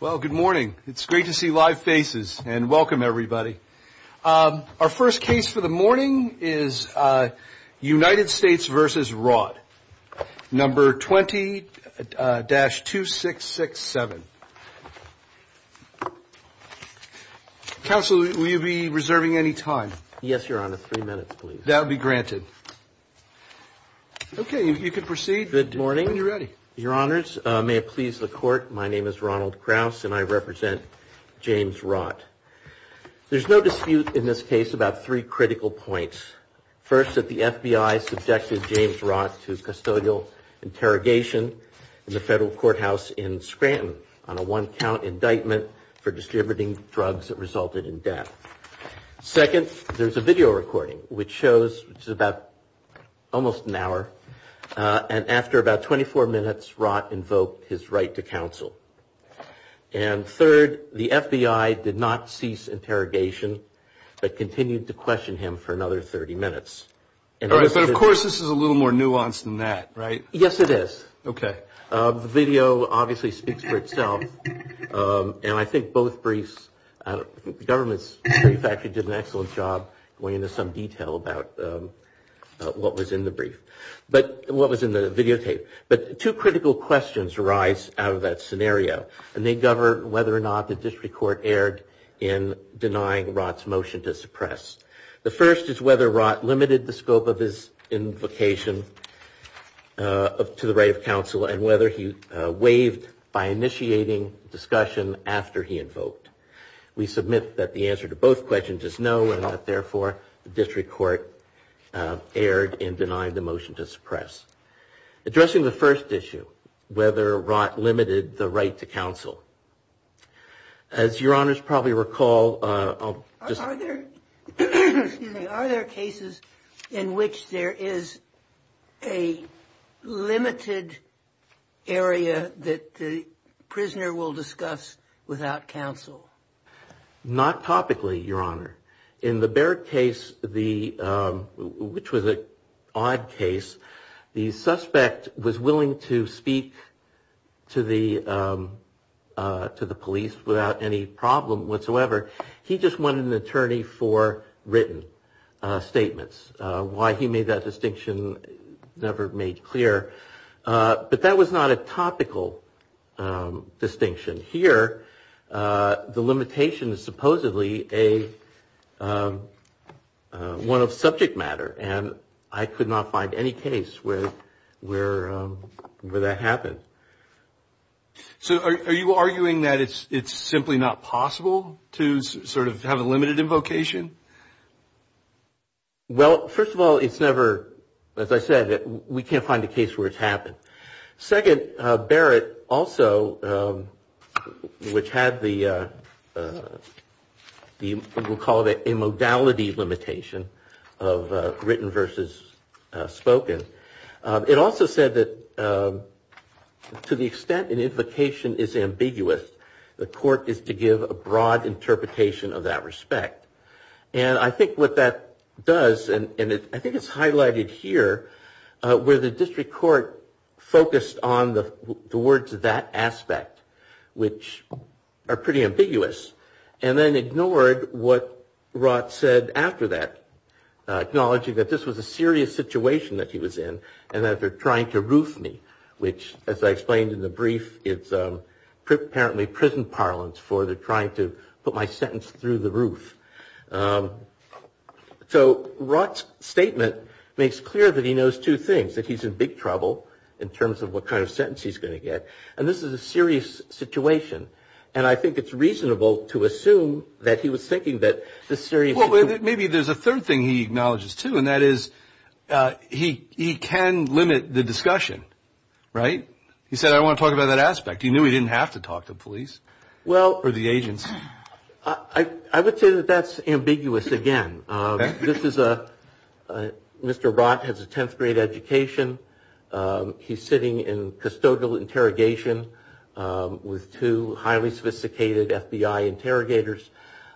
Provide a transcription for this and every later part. Well, good morning. It's great to see live faces. And welcome, everybody. Our first case for the morning is United States v. Rought, No. 20-2667. Counsel, will you be reserving any time? Yes, Your Honor. Three minutes, please. That will be granted. Okay. You can proceed. Good morning. When you're ready. Your Honors, may it please the Court, my name is Ronald Krauss, and I represent James Rought. There's no dispute in this case about three critical points. First, that the FBI subjected James Rought to custodial interrogation in the federal courthouse in Scranton on a one-count indictment for distributing drugs that resulted in death. Second, there's a video recording which shows, which is about almost an hour, and after about 24 minutes, Rought invoked his right to counsel. And third, the FBI did not cease interrogation but continued to question him for another 30 minutes. All right, but of course this is a little more nuanced than that, right? Yes, it is. Okay. The video obviously speaks for itself, and I think both briefs, the government's brief actually did an excellent job going into some detail about what was in the brief, what was in the videotape. But two critical questions arise out of that scenario, and they govern whether or not the district court erred in denying Rought's motion to suppress. The first is whether Rought limited the scope of his invocation to the right of counsel and whether he waived by initiating discussion after he invoked. We submit that the answer to both questions is no, and that, therefore, the district court erred in denying the motion to suppress. Addressing the first issue, whether Rought limited the right to counsel, as Your Honors probably recall, Are there cases in which there is a limited area that the prisoner will discuss without counsel? Not topically, Your Honor. In the Baird case, which was an odd case, the suspect was willing to speak to the police without any problem whatsoever. He just wanted an attorney for written statements. Why he made that distinction never made clear. But that was not a topical distinction. Here, the limitation is supposedly one of subject matter, and I could not find any case where that happened. So are you arguing that it's simply not possible to sort of have a limited invocation? Well, first of all, it's never, as I said, we can't find a case where it's happened. Second, Barrett also, which had the, we'll call it a modality limitation of written versus spoken, it also said that to the extent an invocation is ambiguous, the court is to give a broad interpretation of that respect. And I think what that does, and I think it's highlighted here, where the district court focused on the words of that aspect, which are pretty ambiguous, and then ignored what Rot said after that, acknowledging that this was a serious situation that he was in, and that they're trying to roof me, which, as I explained in the brief, it's apparently prison parlance for the trying to put my sentence through the roof. So Rot's statement makes clear that he knows two things, that he's in big trouble in terms of what kind of sentence he's going to get. And this is a serious situation. And I think it's reasonable to assume that he was thinking that this serious. Well, maybe there's a third thing he acknowledges, too, and that is he can limit the discussion. Right? He said, I want to talk about that aspect. He knew he didn't have to talk to the police or the agents. I would say that that's ambiguous, again. Mr. Rot has a 10th grade education. He's sitting in custodial interrogation with two highly sophisticated FBI interrogators.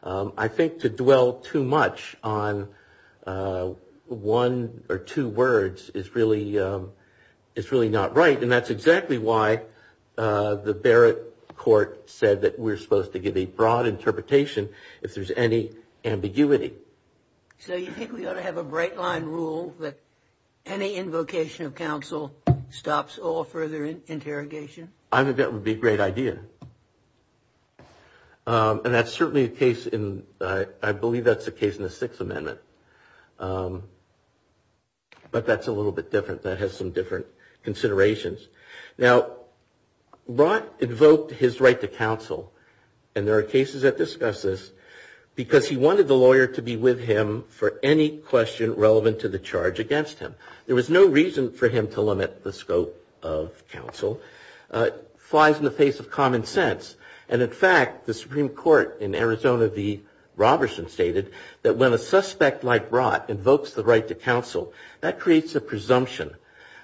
I think to dwell too much on one or two words is really not right. And that's exactly why the Barrett court said that we're supposed to give a broad interpretation if there's any ambiguity. So you think we ought to have a break line rule that any invocation of counsel stops all further interrogation? I think that would be a great idea. And that's certainly a case in, I believe that's a case in the Sixth Amendment. But that's a little bit different. That has some different considerations. Now, Rot invoked his right to counsel, and there are cases that discuss this, because he wanted the lawyer to be with him for any question relevant to the charge against him. There was no reason for him to limit the scope of counsel. It flies in the face of common sense. And, in fact, the Supreme Court in Arizona v. Roberson stated that when a suspect like Rot invokes the right to counsel, that creates a presumption,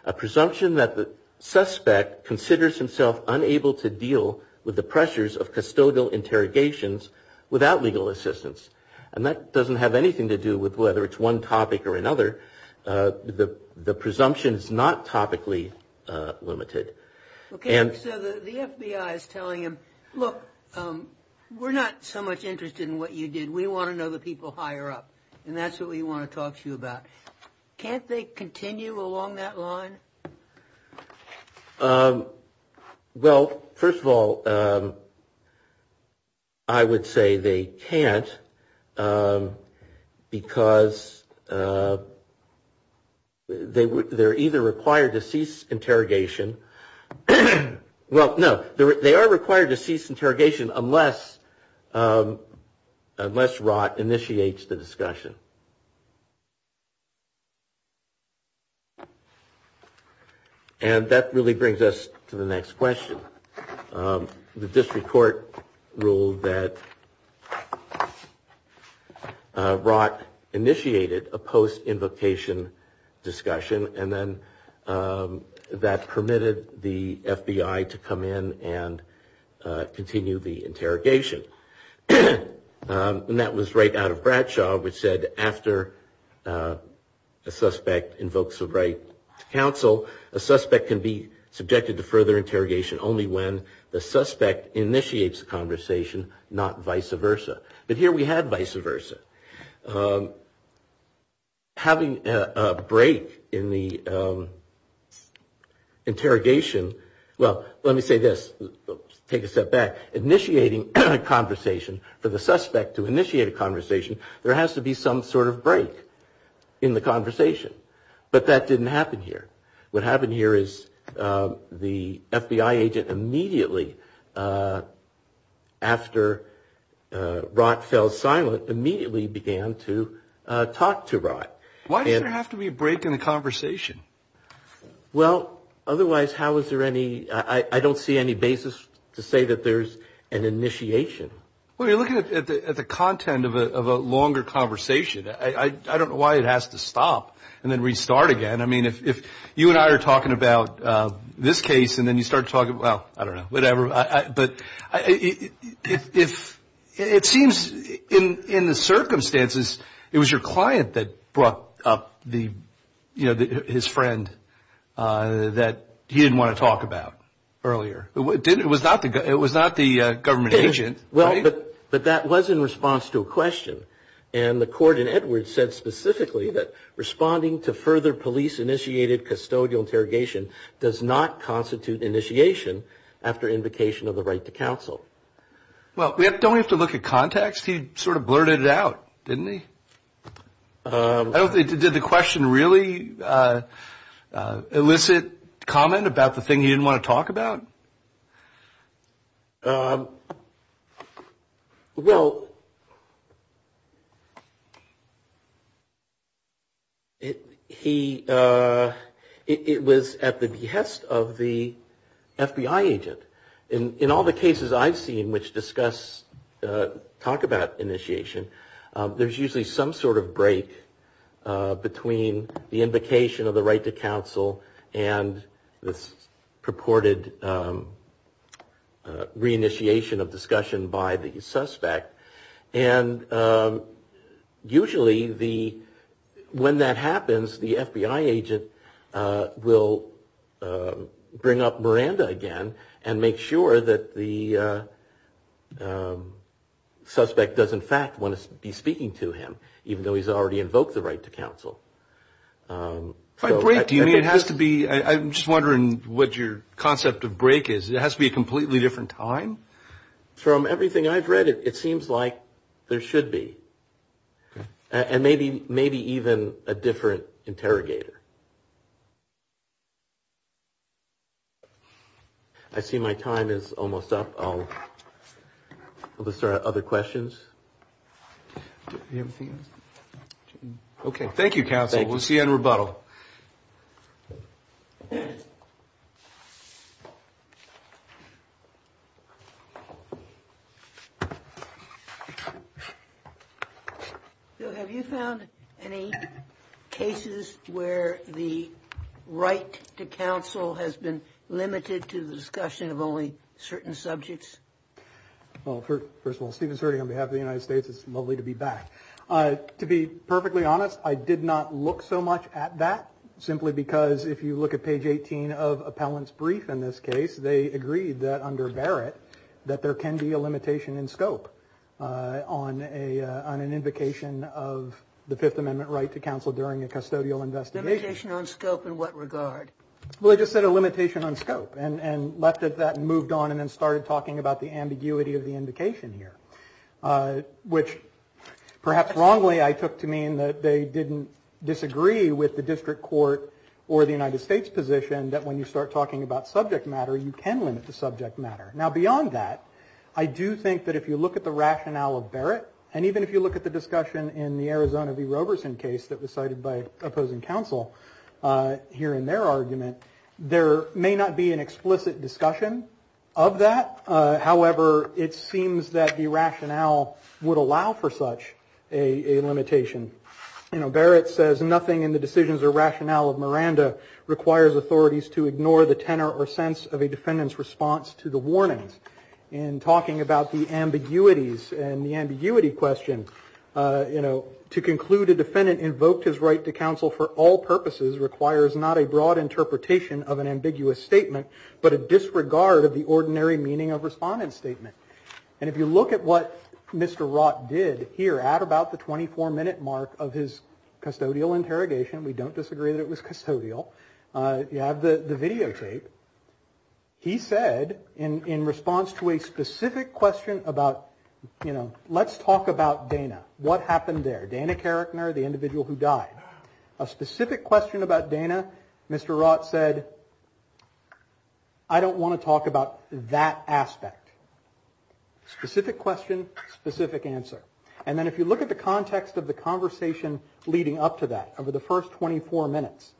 a presumption that the suspect considers himself unable to deal with the pressures of custodial interrogations without legal assistance. And that doesn't have anything to do with whether it's one topic or another. The presumption is not topically limited. Okay, so the FBI is telling him, look, we're not so much interested in what you did. We want to know the people higher up. And that's what we want to talk to you about. Can't they continue along that line? Well, first of all, I would say they can't, because they're either required to cease interrogation. Well, no, they are required to cease interrogation unless Rot initiates the discussion. And that really brings us to the next question. The district court ruled that Rot initiated a post-invocation discussion, and then that permitted the FBI to come in and continue the interrogation. And that was right out of Bradshaw, which said after a suspect invokes the right to counsel, a suspect can be subjected to further interrogation only when the suspect initiates the conversation, not vice versa. But here we had vice versa. Having a break in the interrogation, well, let me say this, take a step back, initiating a conversation for the suspect to initiate a conversation, there has to be some sort of break in the conversation. But that didn't happen here. What happened here is the FBI agent immediately, after Rot fell silent, immediately began to talk to Rot. Why does there have to be a break in the conversation? Well, otherwise how is there any – I don't see any basis to say that there's an initiation. Well, you're looking at the content of a longer conversation. I don't know why it has to stop and then restart again. I mean, if you and I are talking about this case and then you start talking about, I don't know, whatever, but it seems in the circumstances it was your client that brought up his friend that he didn't want to talk about earlier. It was not the government agent. Well, but that was in response to a question. And the court in Edwards said specifically that responding to further police-initiated custodial interrogation does not constitute initiation after invocation of the right to counsel. Well, don't we have to look at context? He sort of blurted it out, didn't he? Did the question really elicit comment about the thing he didn't want to talk about? Well, it was at the behest of the FBI agent. In all the cases I've seen which discuss, talk about initiation, there's usually some sort of break between the invocation of the right to counsel and this purported reinitiation of discussion by the suspect. And usually when that happens, the FBI agent will bring up Miranda again and make sure that the suspect does in fact want to be speaking to him, even though he's already invoked the right to counsel. By break, do you mean it has to be, I'm just wondering what your concept of break is. It has to be a completely different time? From everything I've read, it seems like there should be. And maybe even a different interrogator. I see my time is almost up. Are there other questions? Do we have anything else? Okay, thank you, counsel. We'll see you in rebuttal. Have you found any cases where the right to counsel has been limited to the discussion of only certain subjects? Well, first of all, Stephen Surdy on behalf of the United States, it's lovely to be back. To be perfectly honest, I did not look so much at that, simply because if you look at page 18 of Appellant's brief in this case, they agreed that under Barrett that there can be a limitation in scope on an invocation of the Fifth Amendment right to counsel during a custodial investigation. Limitation on scope in what regard? Well, I just said a limitation on scope and left it at that and moved on and then started talking about the ambiguity of the invocation here, which perhaps wrongly I took to mean that they didn't disagree with the district court or the United States position that when you start talking about subject matter, you can limit the subject matter. Now, beyond that, I do think that if you look at the rationale of Barrett and even if you look at the discussion in the Arizona v. Roberson case that was cited by opposing counsel here in their argument, there may not be an explicit discussion of that. However, it seems that the rationale would allow for such a limitation. You know, Barrett says, nothing in the decisions or rationale of Miranda requires authorities to ignore the tenor or sense of a defendant's response to the warnings. In talking about the ambiguities and the ambiguity question, you know, to conclude a defendant invoked his right to counsel for all purposes requires not a broad interpretation of an ambiguous statement, but a disregard of the ordinary meaning of respondent statement. And if you look at what Mr. Roth did here at about the 24-minute mark of his custodial interrogation, we don't disagree that it was custodial. You have the videotape. He said in response to a specific question about, you know, let's talk about Dana. What happened there? The individual who died. A specific question about Dana, Mr. Roth said, I don't want to talk about that aspect. Specific question, specific answer. And then if you look at the context of the conversation leading up to that, over the first 24 minutes,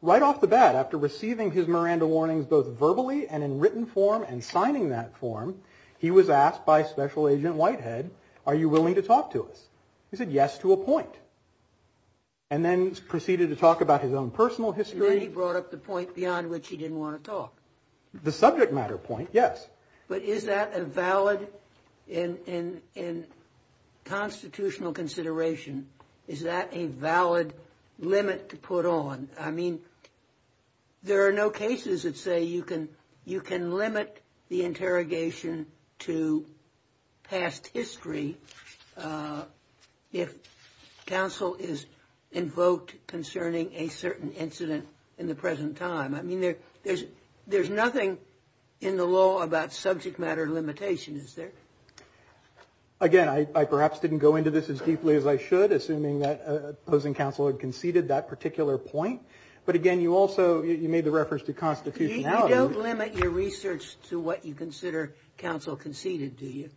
right off the bat, after receiving his Miranda warnings both verbally and in written form and signing that form, he was asked by Special Agent Whitehead, are you willing to talk to us? He said yes to a point. And then proceeded to talk about his own personal history. And then he brought up the point beyond which he didn't want to talk. The subject matter point, yes. But is that a valid, in constitutional consideration, is that a valid limit to put on? I mean, there are no cases that say you can limit the interrogation to past history if counsel is invoked concerning a certain incident in the present time. I mean, there's nothing in the law about subject matter limitation, is there? Again, I perhaps didn't go into this as deeply as I should, assuming that opposing counsel had conceded that particular point. But again, you also made the reference to constitutionality. You don't limit your research to what you consider counsel conceded, do you?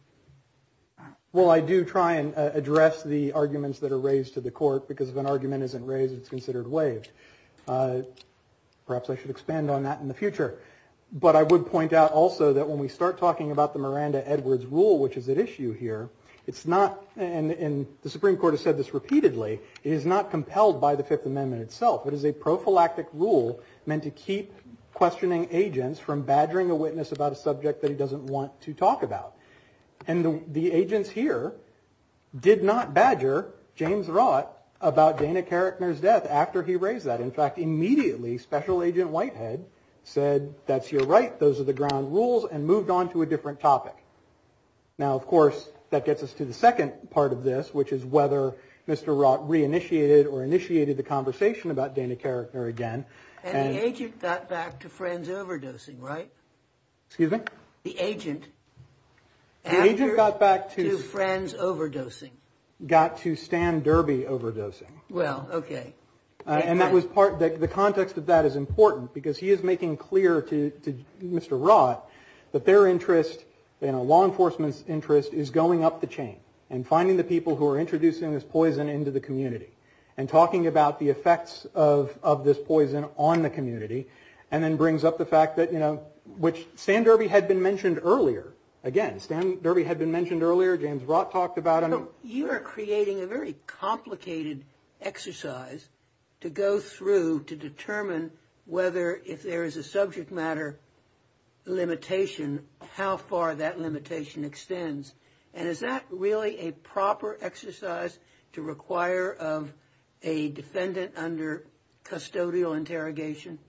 Well, I do try and address the arguments that are raised to the court, because if an argument isn't raised, it's considered waived. Perhaps I should expand on that in the future. But I would point out also that when we start talking about the Miranda-Edwards rule, which is at issue here, it's not, and the Supreme Court has said this repeatedly, it is not compelled by the Fifth Amendment itself. It is a prophylactic rule meant to keep questioning agents from badgering a witness about a subject that he doesn't want to talk about. And the agents here did not badger James Rott about Dana Karrickner's death after he raised that. In fact, immediately, Special Agent Whitehead said, that's your right, those are the ground rules, and moved on to a different topic. Now, of course, that gets us to the second part of this, which is whether Mr. Rott re-initiated or initiated the conversation about Dana Karrickner again. And the agent got back to friends overdosing, right? Excuse me? The agent. The agent got back to friends overdosing. Got to Stan Derby overdosing. Well, okay. And that was part, the context of that is important, because he is making clear to Mr. Rott that their interest, law enforcement's interest is going up the chain and finding the people who are introducing this poison into the community and talking about the effects of this poison on the community and then brings up the fact that, you know, which Stan Derby had been mentioned earlier. Again, Stan Derby had been mentioned earlier, James Rott talked about him. So you are creating a very complicated exercise to go through to determine whether, if there is a subject matter limitation, how far that limitation extends. And is that really a proper exercise to require of a defendant under custodial interrogation?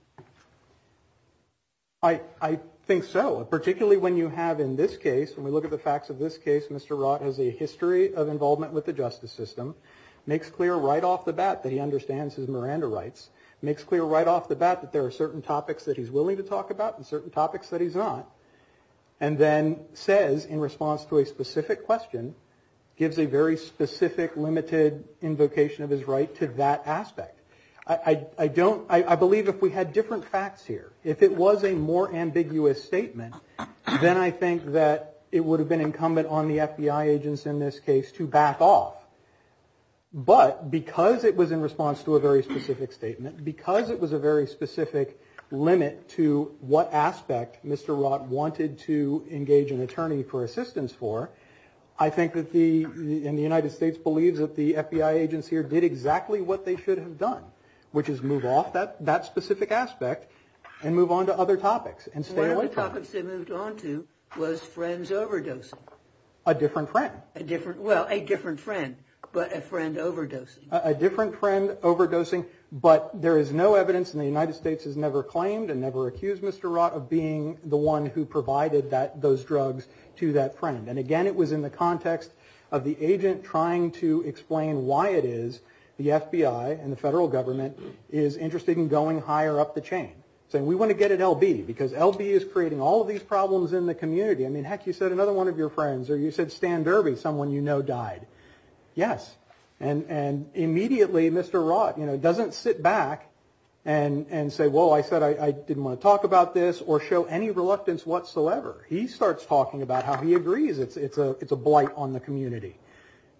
I think so. Particularly when you have in this case, when we look at the facts of this case, Mr. Rott has a history of involvement with the justice system, makes clear right off the bat that he understands his Miranda rights, makes clear right off the bat that there are certain topics that he's willing to talk about and certain topics that he's not, and then says in response to a specific question, gives a very specific limited invocation of his right to that aspect. I don't, I believe if we had different facts here, if it was a more ambiguous statement, then I think that it would have been incumbent on the FBI agents in this case to back off. But because it was in response to a very specific statement, because it was a very specific limit to what aspect Mr. Rott wanted to engage an attorney for assistance for, I think that the, and the United States believes that the FBI agents here did exactly what they should have done, which is move off that specific aspect and move on to other topics and stay away from them. One of the topics they moved on to was friends overdosing. A different friend. A different, well, a different friend, but a friend overdosing. A different friend overdosing, but there is no evidence and the United States has never claimed and never accused Mr. Rott of being the one who provided that, those drugs to that friend. And again, it was in the context of the agent trying to explain why it is the FBI and the federal government is interested in going higher up the chain, saying we want to get at LB because LB is creating all of these problems in the community. I mean, heck, you said another one of your friends, or you said Stan Derby, someone you know died. Yes. And immediately Mr. Rott, you know, doesn't sit back and say, well, I said I didn't want to talk about this or show any reluctance whatsoever. He starts talking about how he agrees it's a blight on the community.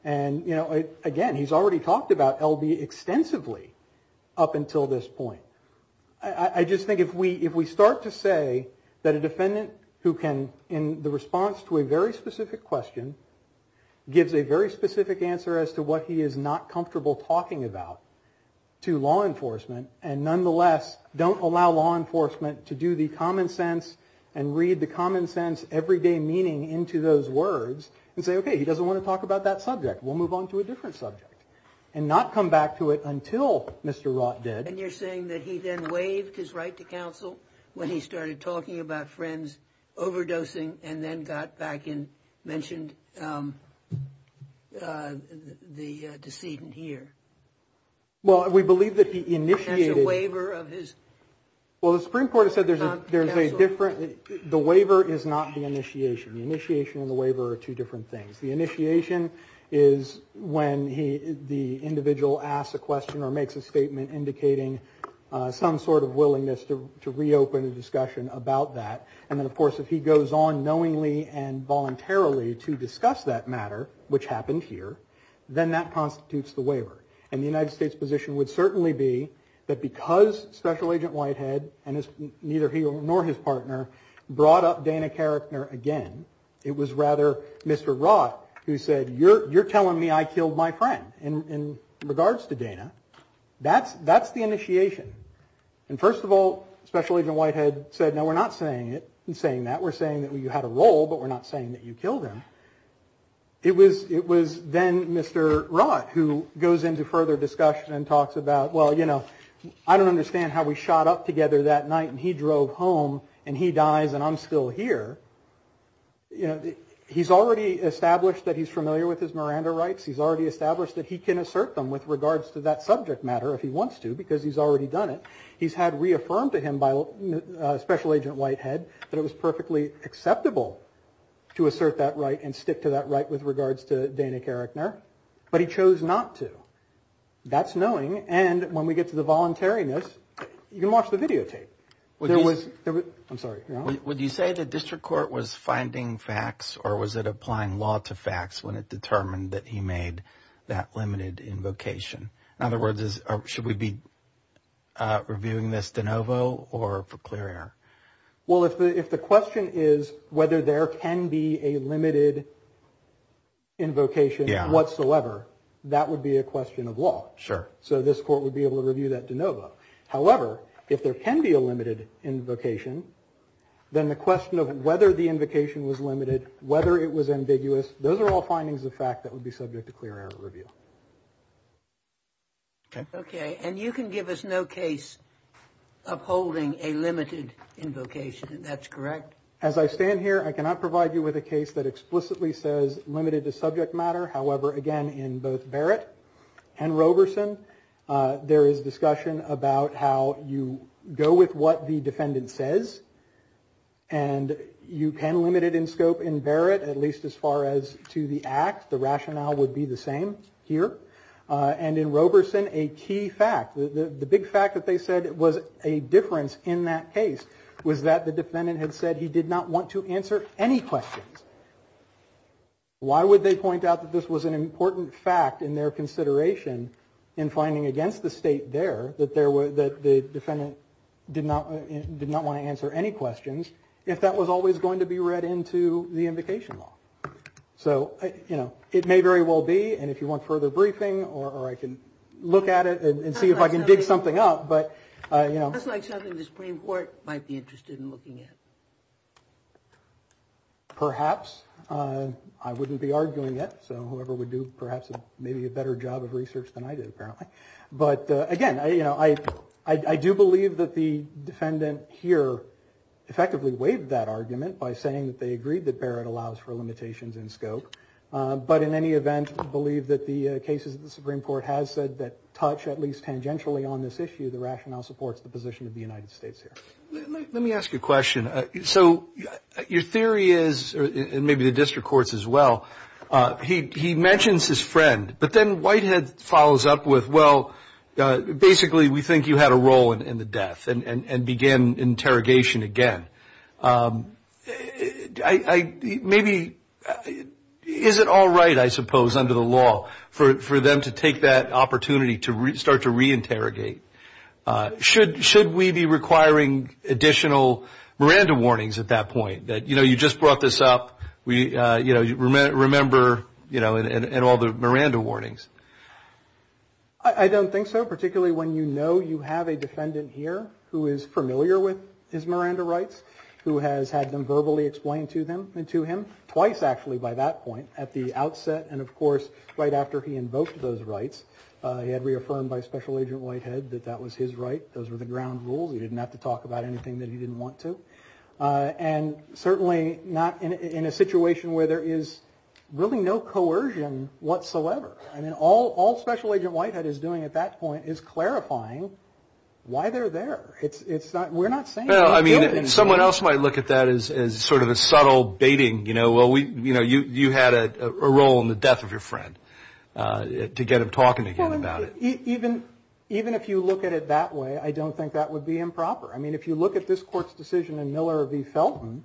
And, you know, again, he's already talked about LB extensively up until this point. I just think if we start to say that a defendant who can, in the response to a very specific question, gives a very specific answer as to what he is not comfortable talking about to law enforcement and nonetheless don't allow law enforcement to do the common sense and read the common sense everyday meaning into those words and say, okay, he doesn't want to talk about that subject, we'll move on to a different subject, and not come back to it until Mr. Rott did. And you're saying that he then waived his right to counsel when he started talking about friends overdosing and then got back and mentioned the decedent here? Well, we believe that he initiated... As a waiver of his... Well, the Supreme Court has said there's a different... The waiver is not the initiation. The initiation and the waiver are two different things. The initiation is when the individual asks a question or makes a statement indicating some sort of willingness to reopen a discussion about that. And then, of course, if he goes on knowingly and voluntarily to discuss that matter, which happened here, then that constitutes the waiver. And the United States position would certainly be that because Special Agent Whitehead and neither he nor his partner brought up Dana Karachner again, it was rather Mr. Rott who said, you're telling me I killed my friend in regards to Dana. That's the initiation. And first of all, Special Agent Whitehead said, no, we're not saying that. We're saying that you had a role, but we're not saying that you killed him. It was then Mr. Rott who goes into further discussion and talks about, well, you know, I don't understand how we shot up together that night and he drove home and he dies and I'm still here. You know, he's already established that he's familiar with his Miranda rights. He's already established that he can assert them with regards to that subject matter if he wants to, because he's already done it. He's had reaffirmed to him by Special Agent Whitehead that it was perfectly acceptable to assert that right and stick to that right with regards to Dana Karachner. But he chose not to. That's knowing. And when we get to the voluntariness, you can watch the videotape. I'm sorry. Would you say the district court was finding facts or was it applying law to facts when it determined that he made that limited invocation? In other words, should we be reviewing this de novo or for clear air? Well, if the question is whether there can be a limited invocation whatsoever, that would be a question of law. Sure. So this court would be able to review that de novo. However, if there can be a limited invocation, then the question of whether the invocation was limited, whether it was ambiguous, those are all findings of fact that would be subject to clear air review. Okay. And you can give us no case upholding a limited invocation. That's correct. As I stand here, I cannot provide you with a case that explicitly says limited to subject matter. However, again, in both Barrett and Roberson, there is discussion about how you go with what the defendant says. And you can limit it in scope in Barrett, at least as far as to the act. The rationale would be the same here. And in Roberson, a key fact. The big fact that they said was a difference in that case was that the defendant had said he did not want to answer any questions. Why would they point out that this was an important fact in their consideration in finding against the state there that there were that the defendant did not did not want to answer any questions if that was always going to be read into the invocation law? So, you know, it may very well be. And if you want further briefing or I can look at it and see if I can dig something up. But, you know, that's like something the Supreme Court might be interested in looking at. Perhaps I wouldn't be arguing it. So whoever would do perhaps maybe a better job of research than I did, apparently. But again, you know, I, I do believe that the defendant here effectively waived that argument by saying that they agreed that Barrett allows for limitations in scope. But in any event, I believe that the cases of the Supreme Court has said that touch at least tangentially on this issue. The rationale supports the position of the United States here. Let me ask you a question. So your theory is, and maybe the district courts as well, he mentions his friend. But then Whitehead follows up with, well, basically we think you had a role in the death and began interrogation again. Maybe is it all right, I suppose, under the law for them to take that opportunity to start to reinterrogate? Should, should we be requiring additional Miranda warnings at that point? That, you know, you just brought this up. We, you know, remember, you know, and all the Miranda warnings. I don't think so, particularly when you know you have a defendant here who is familiar with his Miranda rights, who has had them verbally explained to them and to him twice actually by that point at the outset. And, of course, right after he invoked those rights, he had reaffirmed by Special Agent Whitehead that that was his right. Those were the ground rules. He didn't have to talk about anything that he didn't want to. And certainly not in a situation where there is really no coercion whatsoever. I mean, all all Special Agent Whitehead is doing at that point is clarifying why they're there. It's not we're not saying. I mean, someone else might look at that as sort of a subtle baiting. You know, well, we you know, you had a role in the death of your friend to get him talking about it. Even even if you look at it that way, I don't think that would be improper. I mean, if you look at this court's decision in Miller v. Felton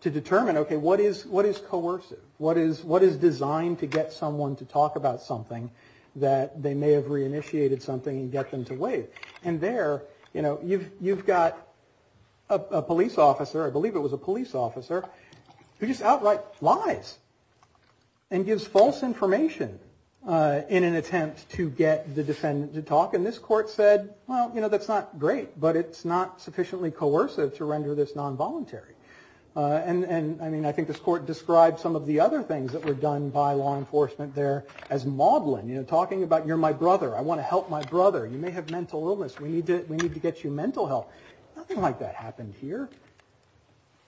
to determine, OK, what is what is coercive? What is what is designed to get someone to talk about something that they may have reinitiated something and get them to wait? And there, you know, you've you've got a police officer. I believe it was a police officer who just outright lies and gives false information in an attempt to get the defendant to talk. And this court said, well, you know, that's not great, but it's not sufficiently coercive to render this nonvoluntary. And I mean, I think this court described some of the other things that were done by law enforcement there as maudlin, you know, talking about you're my brother. I want to help my brother. You may have mental illness. We need to we need to get you mental health. Nothing like that happened here.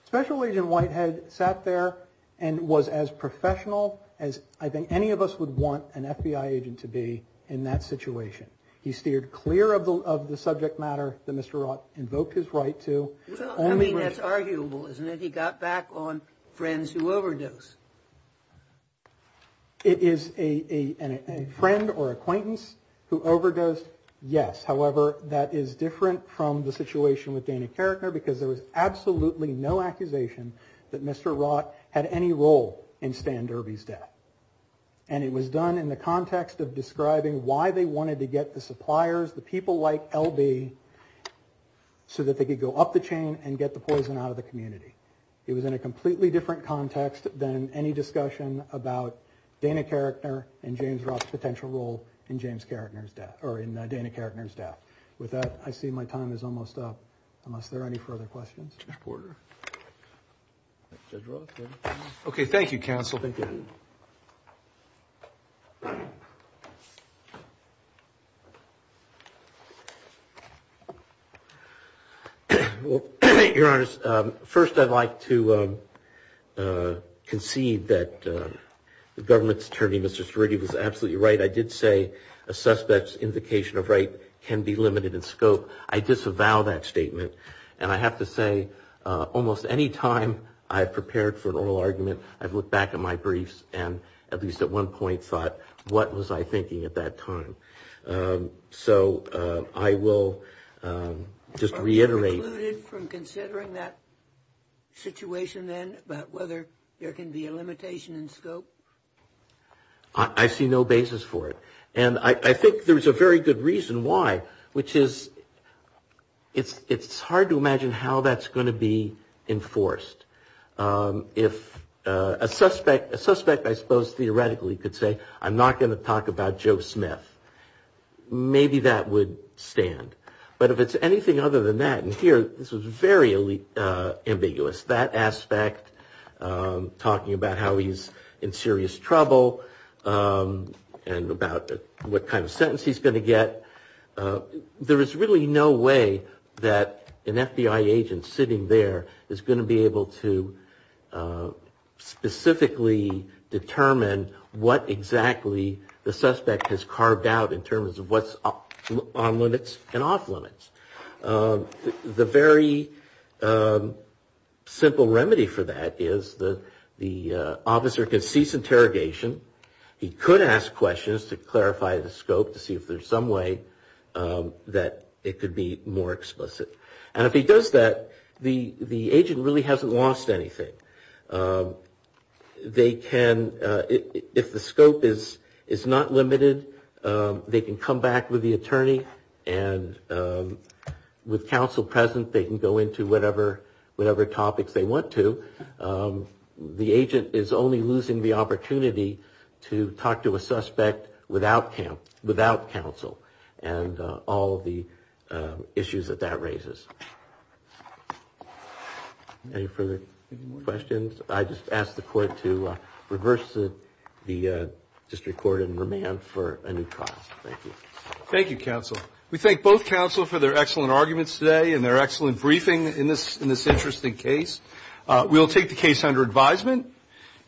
Special Agent Whitehead sat there and was as professional as I think any of us would want an FBI agent to be in that situation. He steered clear of the of the subject matter that Mr. Wright invoked his right to. I mean, that's arguable, isn't it? He got back on friends who overdose. It is a friend or acquaintance who overdosed. Yes. However, that is different from the situation with Dana Carrickner, because there was absolutely no accusation that Mr. Wright had any role in Stan Derby's death. And it was done in the context of describing why they wanted to get the suppliers, the people like L.B., so that they could go up the chain and get the poison out of the community. It was in a completely different context than any discussion about Dana Carrickner and James Roth's potential role in James Carrickner's death or in Dana Carrickner's death. With that, I see my time is almost up. Unless there are any further questions. Thank you. Your Honor, first, I'd like to concede that the government's attorney, Mr. Strudy, was absolutely right. I did say a suspect's indication of right can be limited in scope. I disavow that statement. And I have to say, almost any time I've prepared for an oral argument, I've looked back at my briefs and at least at one point thought, what was I thinking at that time? So I will just reiterate. Are you precluded from considering that situation then about whether there can be a limitation in scope? I see no basis for it. And I think there's a very good reason why, which is it's hard to imagine how that's going to be enforced. If a suspect, I suppose, theoretically could say, I'm not going to talk about Joe Smith, maybe that would stand. But if it's anything other than that, and here this was very ambiguous, that aspect, talking about how he's in serious trouble and about what kind of sentence he's going to get, there is really no way that an FBI agent sitting there is going to be able to specifically determine what exactly the suspect has carved out in terms of what's on limits and off limits. The very simple remedy for that is the officer can cease interrogation. He could ask questions to clarify the scope to see if there's some way that it could be more explicit. And if he does that, the agent really hasn't lost anything. They can, if the scope is not limited, they can come back with the attorney and with counsel present, they can go into whatever topics they want to. So the agent is only losing the opportunity to talk to a suspect without counsel and all of the issues that that raises. Any further questions? I just ask the court to reverse the district court and remand for a new trial. Thank you. Thank you, counsel. We thank both counsel for their excellent arguments today and their excellent briefing in this interesting case. We will take the case under advisement.